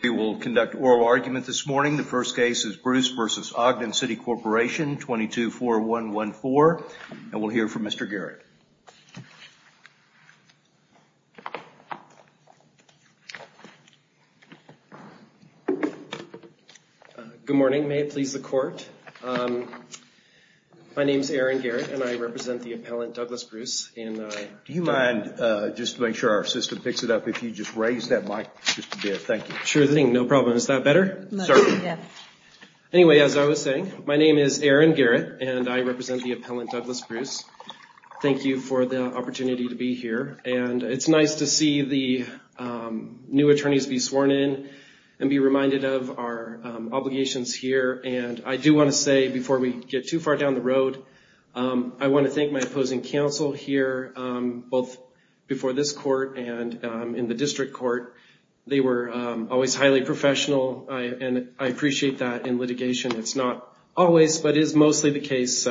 We will conduct oral argument this morning. The first case is Bruce v. Ogden City Corporation 22-4114. And we'll hear from Mr. Garrett. Good morning. May it please the court. My name is Aaron Garrett and I represent the appellant Douglas Bruce. Do you mind, just to make sure our system picks it up, if you just raise that mic just a bit. Thank you. Sure thing, no problem. Is that better? Anyway, as I was saying, my name is Aaron Garrett and I represent the appellant Douglas Bruce. Thank you for the opportunity to be here. And it's nice to see the new attorneys be sworn in and be reminded of our obligations here. And I do want to say before we get too far down the road, I want to thank my opposing counsel here, both before this court and in the district court. They were always highly professional and I appreciate that in litigation. It's not always, but is mostly the case.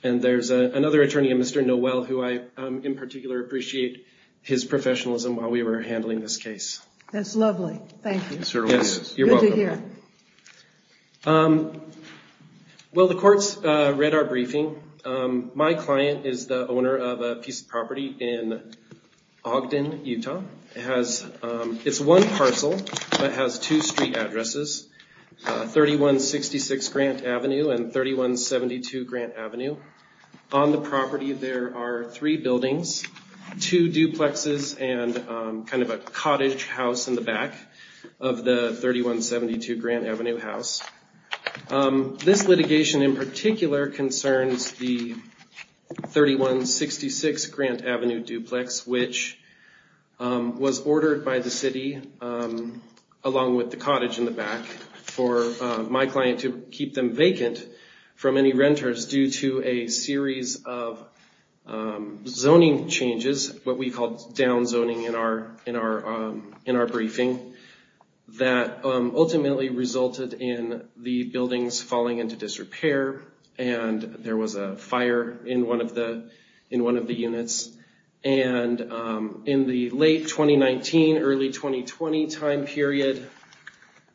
And there's another attorney, Mr. Noel, who I in particular appreciate his professionalism while we were handling this case. That's lovely. Thank you. You're welcome. Thank you, Aaron. Well, the court's read our briefing. My client is the owner of a piece of property in Ogden, Utah. It's one parcel, but it has two street addresses, 3166 Grant Avenue and 3172 Grant Avenue. On the property, there are three buildings, two duplexes and kind of a cottage house in the back of the 3172 Grant Avenue house. This litigation in particular concerns the 3166 Grant Avenue duplex, which was ordered by the city, along with the cottage in the back, for my client to keep them vacant from any renters due to a series of zoning changes, what we call down zoning in our briefing, that ultimately resulted in the buildings falling into disrepair and there was a fire in one of the units. And in the late 2019, early 2020 time period,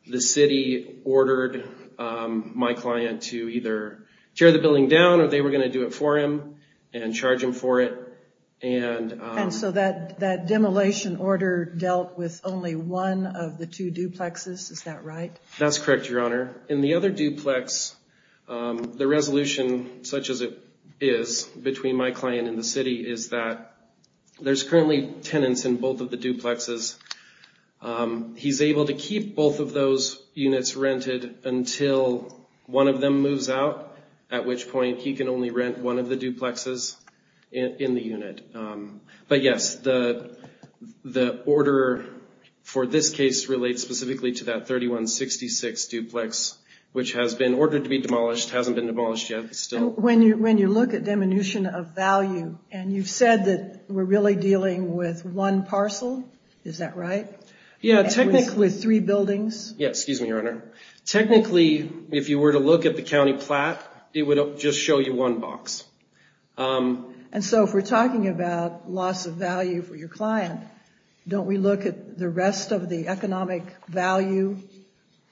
the city ordered my client to either tear the building down or they were going to do it for him and charge him for it. And so that demolition order dealt with only one of the two duplexes, is that right? That's correct, Your Honor. In the other duplex, the resolution, such as it is between my client and the city, is that there's currently tenants in both of the duplexes. He's able to keep both of those units rented until one of them moves out, at which point he can only rent one of the duplexes in the unit. But yes, the order for this case relates specifically to that 3166 duplex, which has been ordered to be demolished, hasn't been demolished yet. When you look at diminution of value, and you've said that we're really dealing with one parcel, is that right? Yeah, technically. With three buildings? Yeah, excuse me, Your Honor. Technically, if you were to look at the county plat, it would just show you one box. And so if we're talking about loss of value for your client, don't we look at the rest of the economic value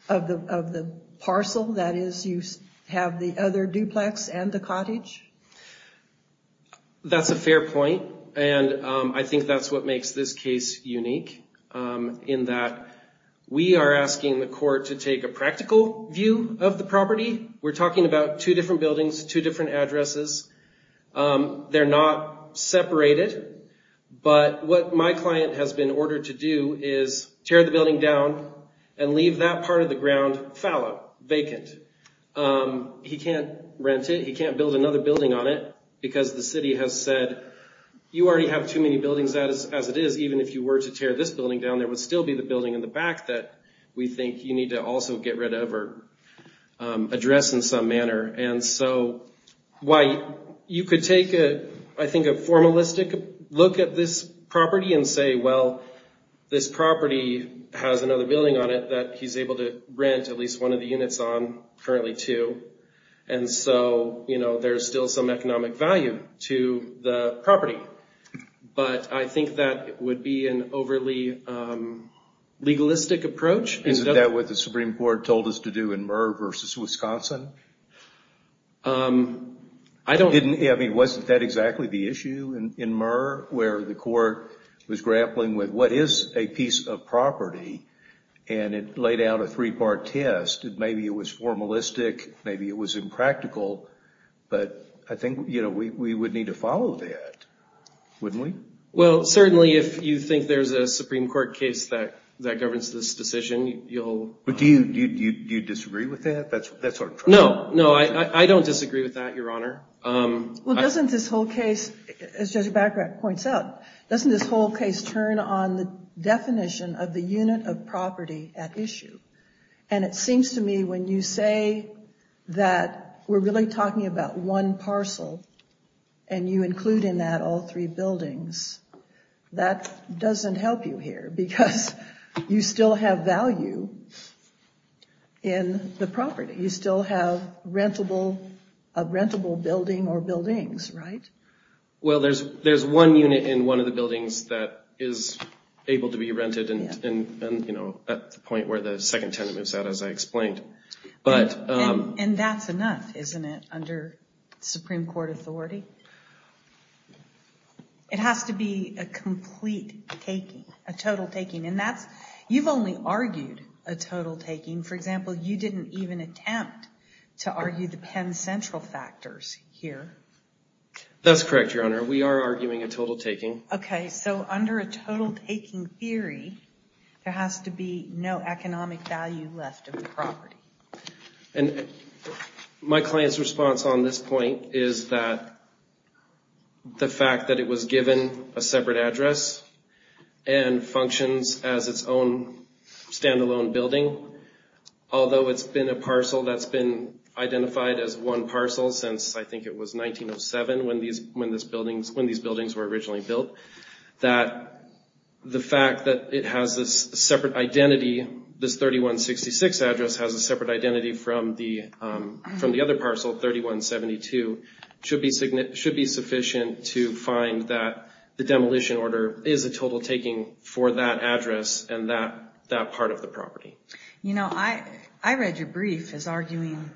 of the parcel? That is, you have the other duplex and the cottage? That's a fair point, and I think that's what makes this case unique, in that we are asking the court to take a practical view of the property. We're talking about two different buildings, two different addresses. They're not separated, but what my client has been ordered to do is tear the building down and leave that part of the ground fallow, vacant. He can't rent it, he can't build another building on it, because the city has said, you already have too many buildings as it is. Even if you were to tear this building down, there would still be the building in the back that we think you need to also get rid of or address in some manner. And so you could take, I think, a formalistic look at this property and say, well, this property has another building on it that he's able to rent at least one of the units on, currently two, and so there's still some economic value to the property. But I think that would be an overly legalistic approach. Isn't that what the Supreme Court told us to do in Murr v. Wisconsin? I don't... Wasn't that exactly the issue in Murr, where the court was grappling with, what is a piece of property? And it laid out a three-part test. Maybe it was formalistic, maybe it was impractical, but I think we would need to follow that, wouldn't we? Well, certainly, if you think there's a Supreme Court case that governs this decision, you'll... But do you disagree with that? No, no, I don't disagree with that, Your Honor. Well, doesn't this whole case, as Judge Bagrat points out, doesn't this whole case turn on the definition of the unit of property at issue? And it seems to me, when you say that we're really talking about one parcel, and you include in that all three buildings, that doesn't help you here, because you still have value in the property. You still have a rentable building or buildings, right? Well, there's one unit in one of the buildings that is able to be rented, and at the point where the second tenant moves out, as I explained. And that's enough, isn't it, under Supreme Court authority? It has to be a complete taking, a total taking, and you've only argued a total taking. For example, you didn't even attempt to argue the Penn Central factors here. That's correct, Your Honor. We are arguing a total taking. Okay, so under a total taking theory, there has to be no economic value left of the property. And my client's response on this point is that the fact that it was given a separate address and functions as its own stand-alone building, although it's been a parcel that's been identified as one parcel since I think it was 1907 when these buildings were originally built, that the fact that it has this separate identity, this 3166 address has a separate identity from the other parcel, 3172, should be sufficient to find that the demolition order is a total taking for that address and that part of the property. You know, I read your brief as arguing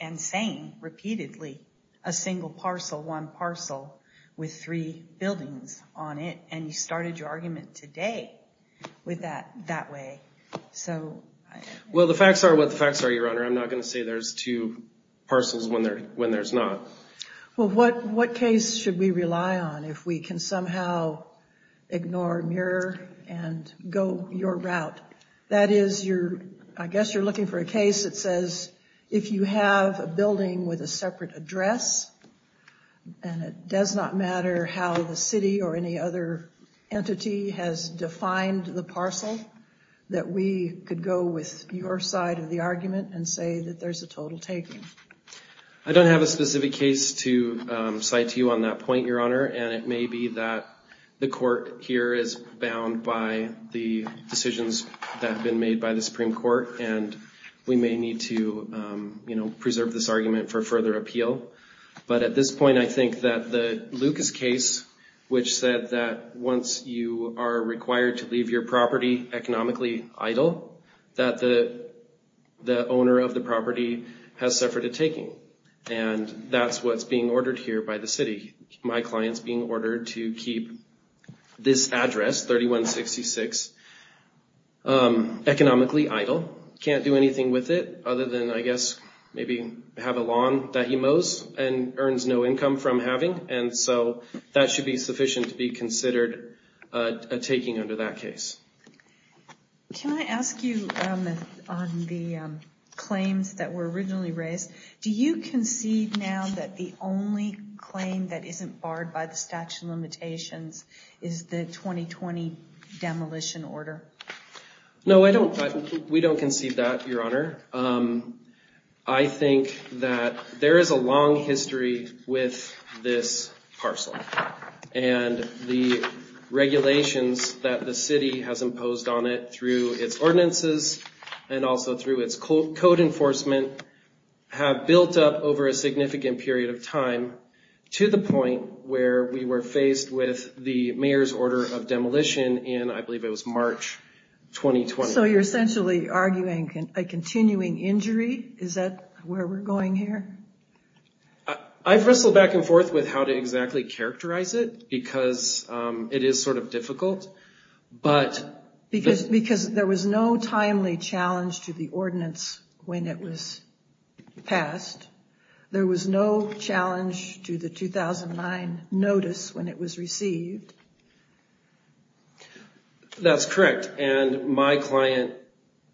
and saying repeatedly a single parcel, one parcel, with three buildings on it, and you started your argument today with that way. Well, the facts are what the facts are, Your Honor. I'm not going to say there's two parcels when there's not. Well, what case should we rely on if we can somehow ignore MIRROR and go your route? That is, I guess you're looking for a case that says if you have a building with a separate address and it does not matter how the city or any other entity has defined the parcel, that we could go with your side of the argument and say that there's a total taking. I don't have a specific case to cite to you on that point, Your Honor, and it may be that the court here is bound by the decisions that have been made by the Supreme Court, and we may need to preserve this argument for further appeal. But at this point, I think that the Lucas case, which said that once you are required to leave your property economically idle, that the owner of the property has suffered a taking. And that's what's being ordered here by the city. My client's being ordered to keep this address, 3166, economically idle, can't do anything with it other than, I guess, maybe have a lawn that he mows and earns no income from having. And so that should be sufficient to be considered a taking under that case. Can I ask you on the claims that were originally raised, do you concede now that the only claim that isn't barred by the statute of limitations is the 2020 demolition order? No, we don't concede that, Your Honor. I think that there is a long history with this parcel, and the regulations that the city has imposed on it through its ordinances and also through its code enforcement have built up over a significant period of time to the point where we were faced with the mayor's order of demolition in, I believe it was March 2020. So you're essentially arguing a continuing injury? Is that where we're going here? I've wrestled back and forth with how to exactly characterize it because it is sort of difficult, but... Because there was no timely challenge to the ordinance when it was passed. There was no challenge to the 2009 notice when it was received. That's correct. And my client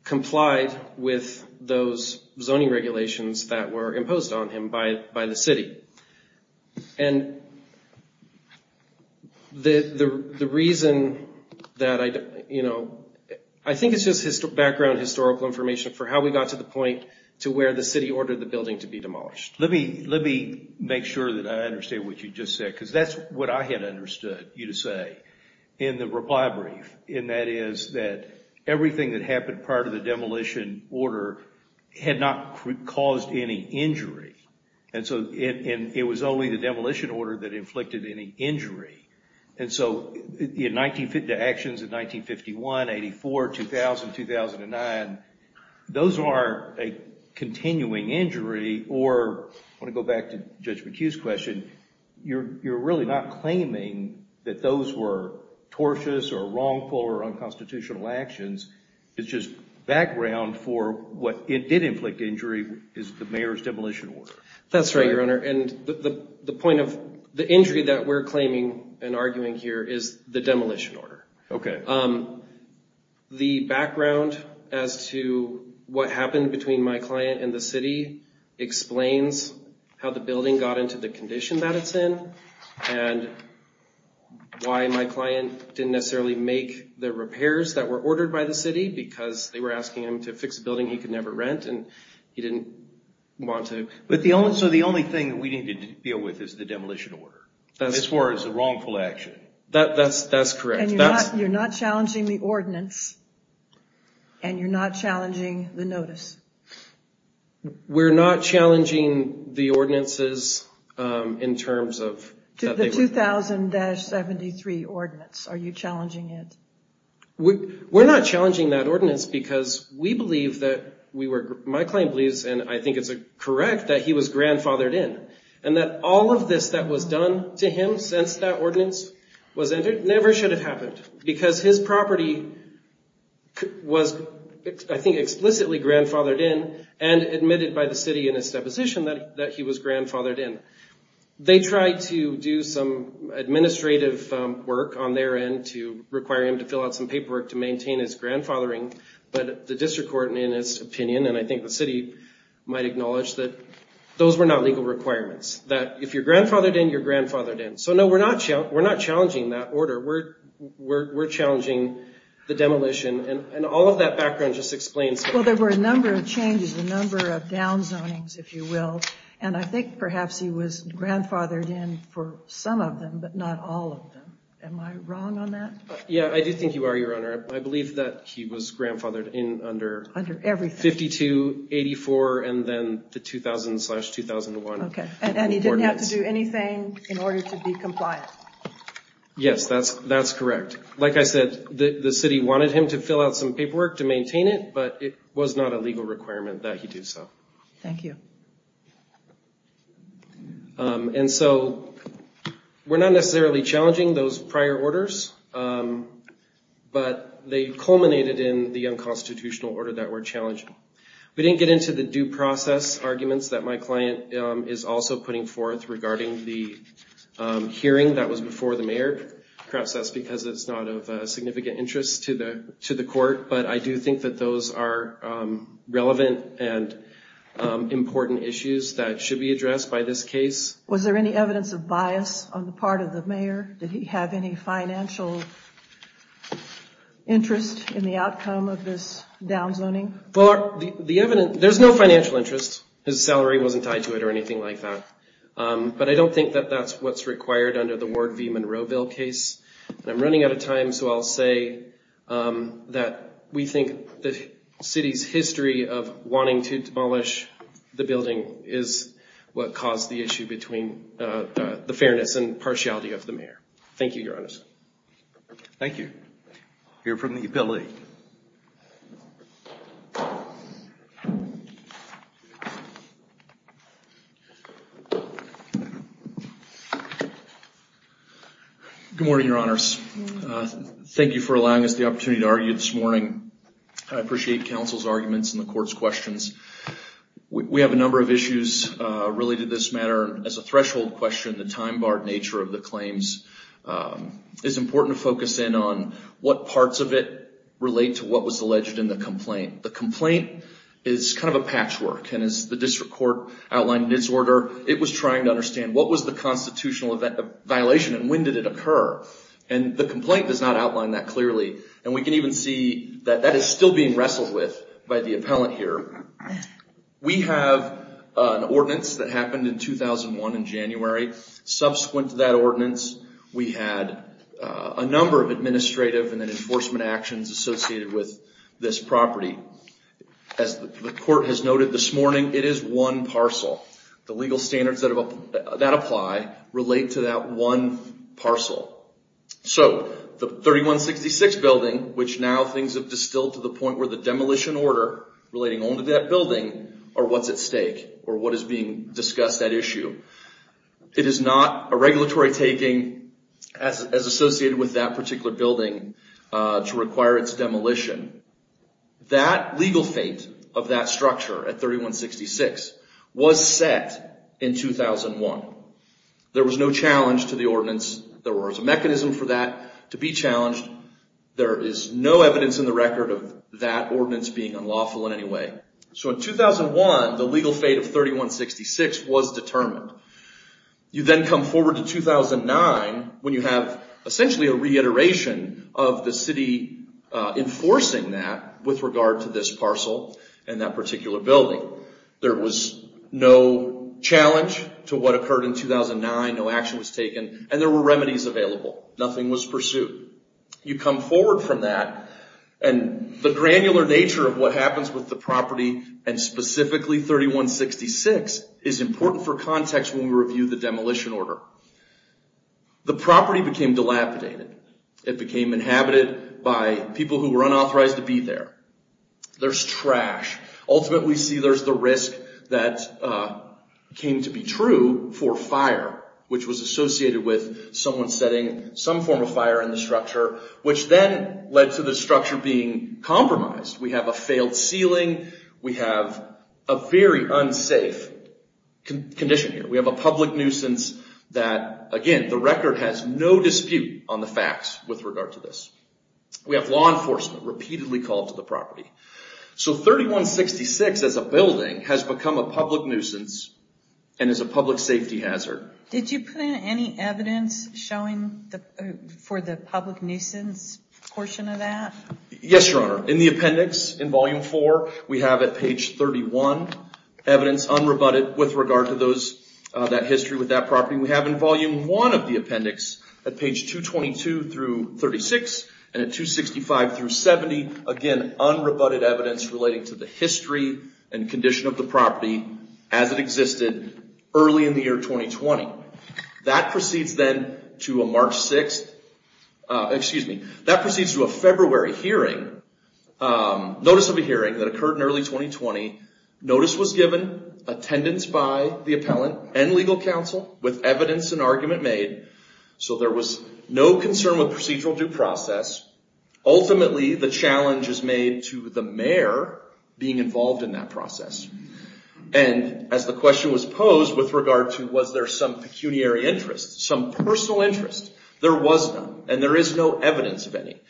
complied with those zoning regulations that were imposed on him by the city. And the reason that I... I think it's just background historical information for how we got to the point to where the city ordered the building to be demolished. Let me make sure that I understand what you just said because that's what I had understood you to say in the reply brief, and that is that everything that happened prior to the demolition order had not caused any injury. And so it was only the demolition order that inflicted any injury. And so the actions of 1951, 84, 2000, 2009, those are a continuing injury or... I want to go back to Judge McHugh's question. You're really not claiming that those were tortuous or wrongful or unconstitutional actions. It's just background for what did inflict injury is the mayor's demolition order. That's right, Your Honor, and the point of... and arguing here is the demolition order. Okay. The background as to what happened between my client and the city explains how the building got into the condition that it's in and why my client didn't necessarily make the repairs that were ordered by the city because they were asking him to fix a building he could never rent and he didn't want to... So the only thing we need to deal with is the demolition order. This was a wrongful action. That's correct. And you're not challenging the ordinance and you're not challenging the notice. We're not challenging the ordinances in terms of... To the 2000-73 ordinance. Are you challenging it? We're not challenging that ordinance because we believe that we were... my client believes, and I think it's correct, that he was grandfathered in. And that all of this that was done to him since that ordinance was entered never should have happened because his property was, I think, explicitly grandfathered in and admitted by the city in its deposition that he was grandfathered in. They tried to do some administrative work on their end to require him to fill out some paperwork to maintain his grandfathering, but the district court, in its opinion, and I think the city might acknowledge that those were not legal requirements. That if you're grandfathered in, you're grandfathered in. So no, we're not challenging that order. We're challenging the demolition. And all of that background just explains... Well, there were a number of changes, a number of downzonings, if you will, and I think perhaps he was grandfathered in for some of them, but not all of them. Am I wrong on that? Yeah, I do think you are, Your Honor. I believe that he was grandfathered in under... Under everything. 52-84 and then the 2000-2001. Okay, and he didn't have to do anything in order to be compliant. Yes, that's correct. Like I said, the city wanted him to fill out some paperwork to maintain it, but it was not a legal requirement that he do so. Thank you. And so we're not necessarily challenging those prior orders, but they culminated in the unconstitutional order that we're challenging. We didn't get into the due process arguments that my client is also putting forth regarding the hearing that was before the mayor. Perhaps that's because it's not of significant interest to the court, but I do think that those are relevant and important issues that should be addressed by this case. Was there any evidence of bias on the part of the mayor? Did he have any financial interest in the outcome of this down zoning? There's no financial interest. His salary wasn't tied to it or anything like that. But I don't think that that's what's required under the Ward v. Monroeville case. I'm running out of time, so I'll say that we think the city's history of wanting to demolish the building is what caused the issue between the fairness and partiality of the mayor. Thank you, Your Honor. Thank you. We'll hear from the appellee. Good morning, Your Honors. Thank you for allowing us the opportunity to argue this morning. I appreciate counsel's arguments and the court's questions. We have a number of issues related to this matter. As a threshold question, the time-barred nature of the claims is important to focus in on what parts of it relate to what was alleged in the complaint. The complaint is kind of a patchwork. As the district court outlined in its order, it was trying to understand what was the constitutional violation and when did it occur. The complaint does not outline that clearly. We can even see that that is still being wrestled with by the appellant here. We have an ordinance that happened in 2001 in January. Subsequent to that ordinance, we had a number of administrative and then enforcement actions associated with this property. As the court has noted this morning, it is one parcel. The legal standards that apply relate to that one parcel. So, the 3166 building, which now things have distilled to the point where the demolition order relating only to that building are what's at stake or what is being discussed at issue. It is not a regulatory taking as associated with that particular building to require its demolition. That legal fate of that structure at 3166 was set in 2001. There was no challenge to the ordinance. There was a mechanism for that to be challenged. There is no evidence in the record of that ordinance being unlawful in any way. In 2001, the legal fate of 3166 was determined. You then come forward to 2009 when you have essentially a reiteration of the city enforcing that with regard to this parcel and that particular building. There was no challenge to what occurred in 2009. No action was taken. There were remedies available. Nothing was pursued. You come forward from that and the granular nature of what happens with the property and specifically 3166 is important for context when we review the demolition order. The property became dilapidated. It became inhabited by people who were unauthorized to be there. There's trash. Ultimately, we see there's the risk that came to be true for fire which was associated with someone setting some form of fire in the structure which then led to the structure being compromised. We have a failed ceiling. We have a very unsafe condition here. We have a public nuisance that, again, the record has no dispute on the facts with regard to this. We have law enforcement repeatedly called to the property. So 3166 as a building has become a public nuisance and is a public safety hazard. Did you put in any evidence showing for the public nuisance portion of that? Yes, Your Honor. In the appendix in Volume 4, we have at page 31 evidence unrebutted with regard to those, that history with that property. We have in Volume 1 of the appendix at page 222 through 36 and at 265 through 70, again, unrebutted evidence relating to the history and condition of the property as it existed early in the year 2020. That proceeds then to a March 6th, excuse me, that proceeds to a February hearing, notice of a hearing that occurred in early 2020. Notice was given, attendance by the appellant and legal counsel with evidence and argument made. So there was no concern with procedural due process. Ultimately, the challenge is made to the mayor being involved in that process. And as the question was posed with regard to was there some pecuniary interest, some personal interest, there was none and there is no evidence of any.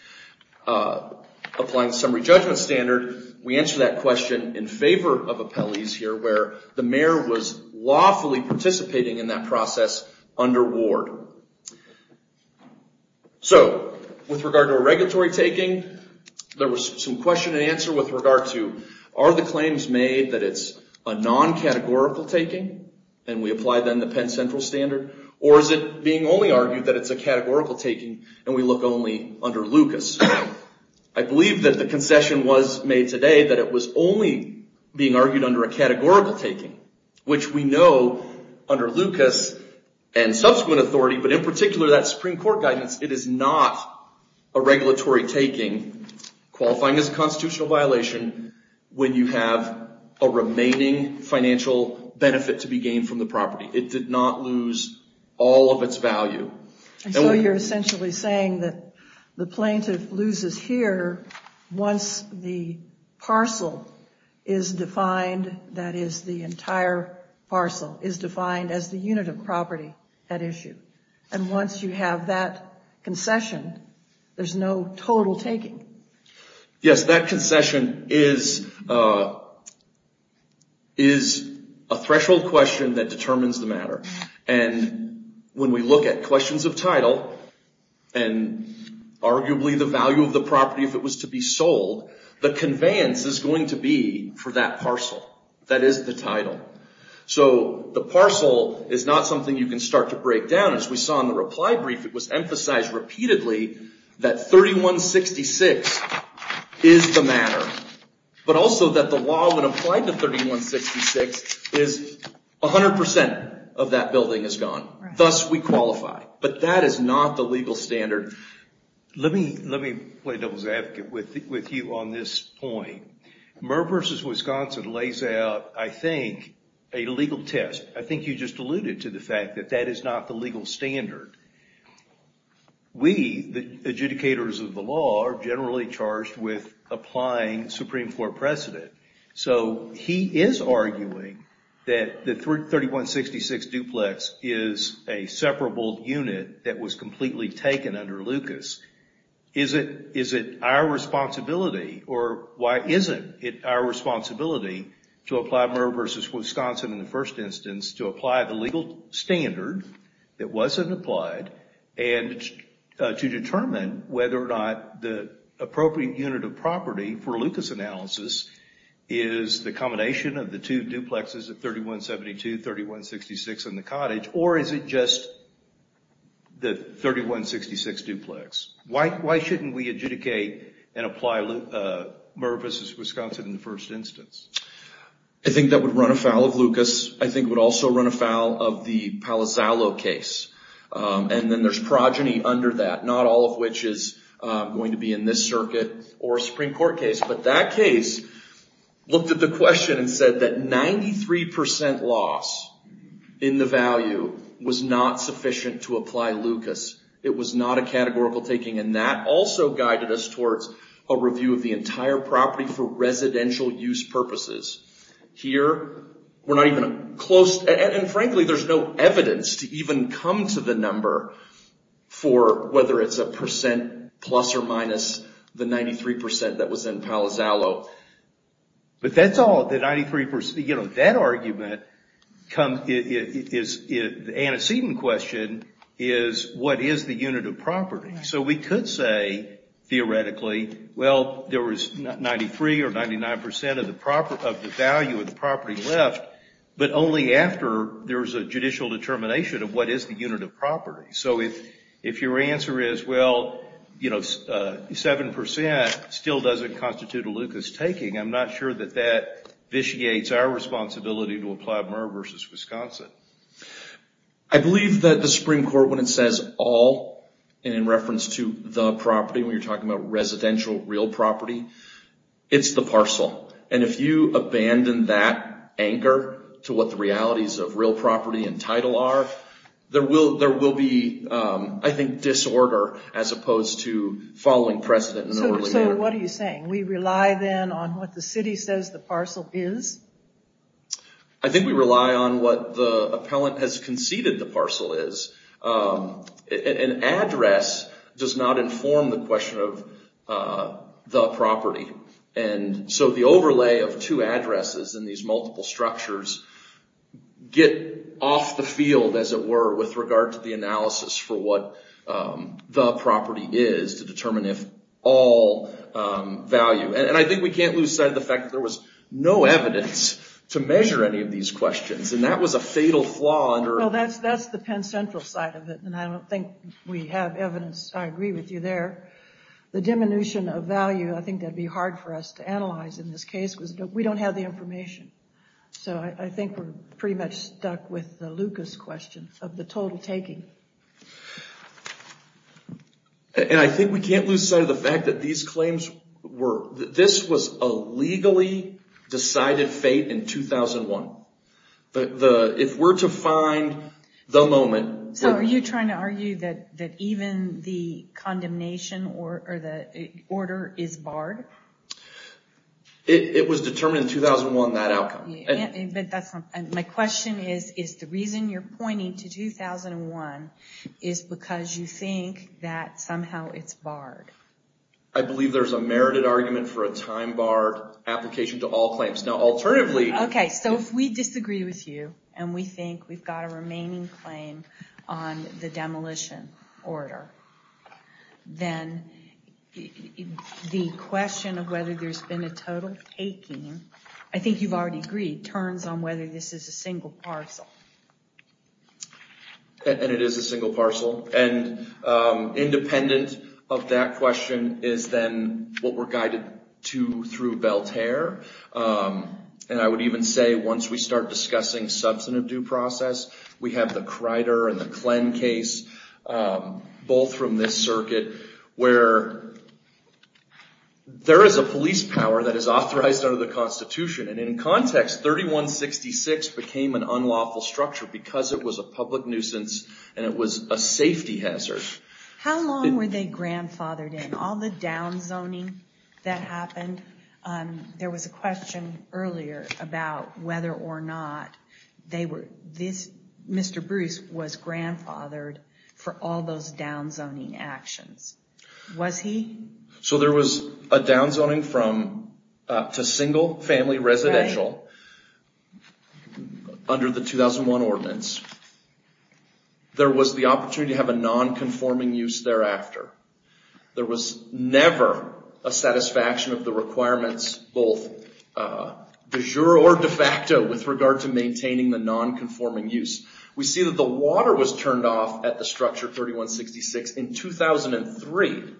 Applying the summary judgment standard, we answer that question in favor of appellees here where the mayor was lawfully participating in that process under ward. So, with regard to a regulatory taking, there was some question and answer with regard to are the claims made that it's a non-categorical taking and we apply then the Penn Central standard or is it being only argued that it's a categorical taking and we look only under Lucas. I believe that the concession was made today that it was only being argued under a categorical taking which we know under Lucas and subsequent authority but in particular that Supreme Court guidance, it is not a regulatory taking qualifying as a constitutional violation when you have a remaining financial benefit to be gained from the property. It did not lose all of its value. So, you're essentially saying that the plaintiff loses here once the parcel is defined, that is the entire parcel is defined as the unit of property at issue and once you have that concession, there's no total taking. Yes, that concession is a threshold question that determines the matter and when we look at questions of title and arguably the value of the property if it was to be sold, the conveyance is going to be for that parcel, that is the title. So, the parcel is not something you can start to break down as we saw in the reply brief, it was emphasized repeatedly that 3166 is the matter but also that the law when applied to 3166 is 100% of that building is gone. Thus, we qualify. But that is not the legal standard. Let me play devil's advocate with you on this point. Murr versus Wisconsin lays out, I think, a legal test. I think you just alluded to the fact that that is not the legal standard. We, the adjudicators of the law, are generally charged with applying Supreme Court precedent. So, he is arguing that the 3166 duplex is a separable unit that was completely taken under Lucas. Is it our responsibility or why isn't it our responsibility to apply Murr versus Wisconsin in the first instance to apply the legal standard that wasn't applied and to determine whether or not the appropriate unit of property for Lucas analysis is the combination of the two duplexes of 3172, 3166, and the cottage or is it just the 3166 duplex? Why shouldn't we adjudicate and apply Murr versus Wisconsin in the first instance? I think that would run afoul of Lucas. I think it would also run afoul of the Palazzolo case. And then there's progeny under that, not all of which is going to be in this circuit or Supreme Court case, but that case looked at the question and said that 93% loss in the value was not sufficient to apply Lucas. It was not a categorical taking and that also guided us towards a review of the entire property for residential use purposes. Here, we're not even close and frankly there's no evidence to even come to the number for whether it's a percent plus or minus the 93% that was in Palazzolo. But that's all, the 93%, you know, that argument is the antecedent question is what is the unit of property? So we could say, theoretically, well, there was 93 or 99% of the value of the property left but only after there's a judicial determination of what is the unit of property. So if your answer is well, 7% still doesn't constitute a Lucas taking, I'm not sure that that vitiates our responsibility to apply Murr v. Wisconsin. I believe that the Supreme Court when it says all and in reference to the property when you're talking about residential real property, it's the parcel. And if you abandon that anchor to what the realities of real property and title are, there will be, I think, disorder as opposed to following precedent and early order. So what are you saying? We rely then on what the city says the parcel is? I think we rely on what the appellant has conceded the parcel is. An address does not inform the question of the property. And so the overlay of two addresses in these multiple structures get off the field, as it were, with regard to the analysis for what the property is to determine if all value. And I think we can't lose sight of the fact that there was no evidence to measure any of these questions. And that was a fatal flaw under... Well, that's the Penn Central side of it, and I don't think we have evidence. I agree with you there. The diminution of value, I think that'd be hard for us to analyze in this case, because we don't have the information. So I think we're pretty much stuck with the Lucas question of the total taking. And I think we can't lose sight of the fact that these claims were... This was a legally decided fate in 2001. If we're to find the moment... So are you trying to argue that even the condemnation or the order is barred? It was determined in 2001, that outcome. But that's not... My question is, is the reason you're pointing to 2001 is because you think that somehow it's barred. I believe there's a merited argument for a time-barred application to all claims. Now, alternatively... Okay, so if we disagree with you and we think we've got a remaining claim on the demolition order, then the question of whether there's been a total taking, I think you've already agreed, turns on whether this is a single parcel. And it is a single parcel. And independent of that question is then what we're guided to through Belterre. And I would even say, once we start discussing substantive due process, we have the Crider and the Klen case, both from this circuit, where there is a police power that is authorized under the Constitution. And in context, 3166 became an unlawful structure because it was a public nuisance and it was a safety hazard. How long were they grandfathered in? All the downzoning that happened? There was a question earlier about whether or not Mr. Bruce was grandfathered for all those downzoning actions. Was he? So there was a downzoning to single family residential under the 2001 ordinance. There was the opportunity to have a non-conforming use thereafter. There was never a satisfaction of the requirements, both de jure or de facto, with regard to maintaining the non-conforming use. We see that the water was turned off at the structure 3166 in 2003.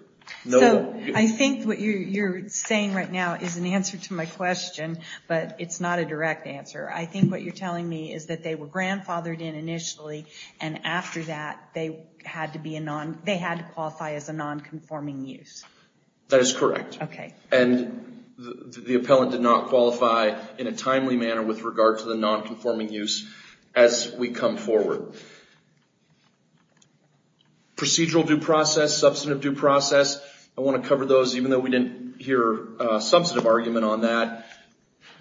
So I think what you're saying right now is an answer to my question, but it's not a direct answer. I think what you're telling me is that they were grandfathered in initially and after that they had to qualify as a non-conforming use. That is correct. Okay. And the appellant did not qualify in a timely manner with regard to the non-conforming use as we come forward. Procedural due process, substantive due process, I want to cover those even though we didn't hear a substantive argument on that.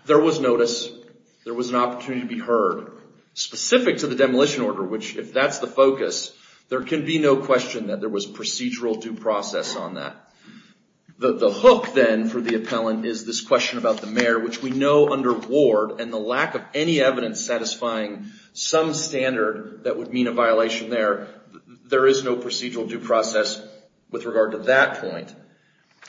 There was notice. There was an opportunity to be heard specific to the demolition order, which if that's the focus, there can be no question that there was procedural due process on that. The hook then for the appellant is this question about the mayor, which we know under Ward and the lack of any evidence satisfying some standard that would mean a violation there, there is no procedural due process with regard to that point.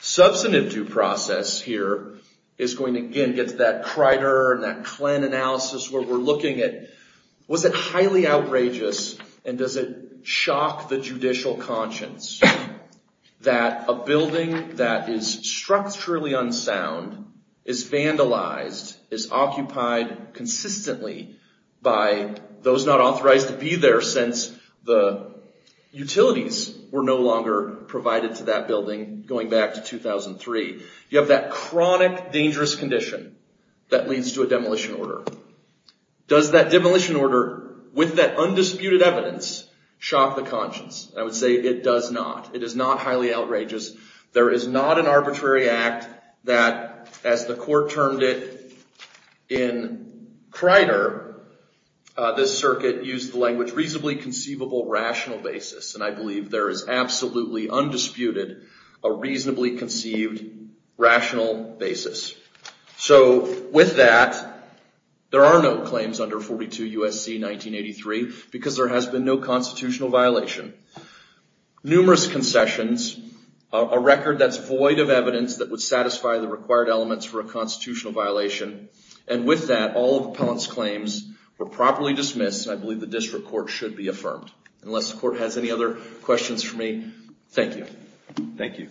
Substantive due process here is going to again get to that Crider and that Klen analysis where we're looking at was it highly outrageous and does it shock the judicial conscience that a building that is structurally unsound is vandalized, is occupied consistently by those not authorized to be there ever since the utilities were no longer provided to that building going back to 2003. You have that chronic dangerous condition that leads to a demolition order. Does that demolition order with that undisputed evidence shock the conscience? I would say it does not. It is not highly outrageous. There is not an arbitrary act that as the court termed it in Crider, this circuit used the language reasonably conceivable rational basis and I believe there is absolutely undisputed a reasonably conceived rational basis. So with that, there are no claims under 42 U.S.C. 1983 because there has been no constitutional violation. Numerous concessions, a record that's void of evidence that would satisfy the required elements for a constitutional violation and with that, all of Appellant's claims were properly dismissed and I believe the district court should be affirmed. Unless the court has any other questions for me, thank you. Thank you.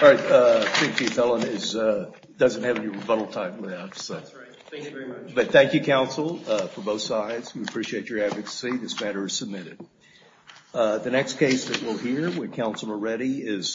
All right, I think the Appellant doesn't have any rebuttal time left. That's right. Thank you very much. But thank you counsel for both sides. We appreciate your advocacy. This matter is submitted. The next case that we'll hear when counsel are ready is...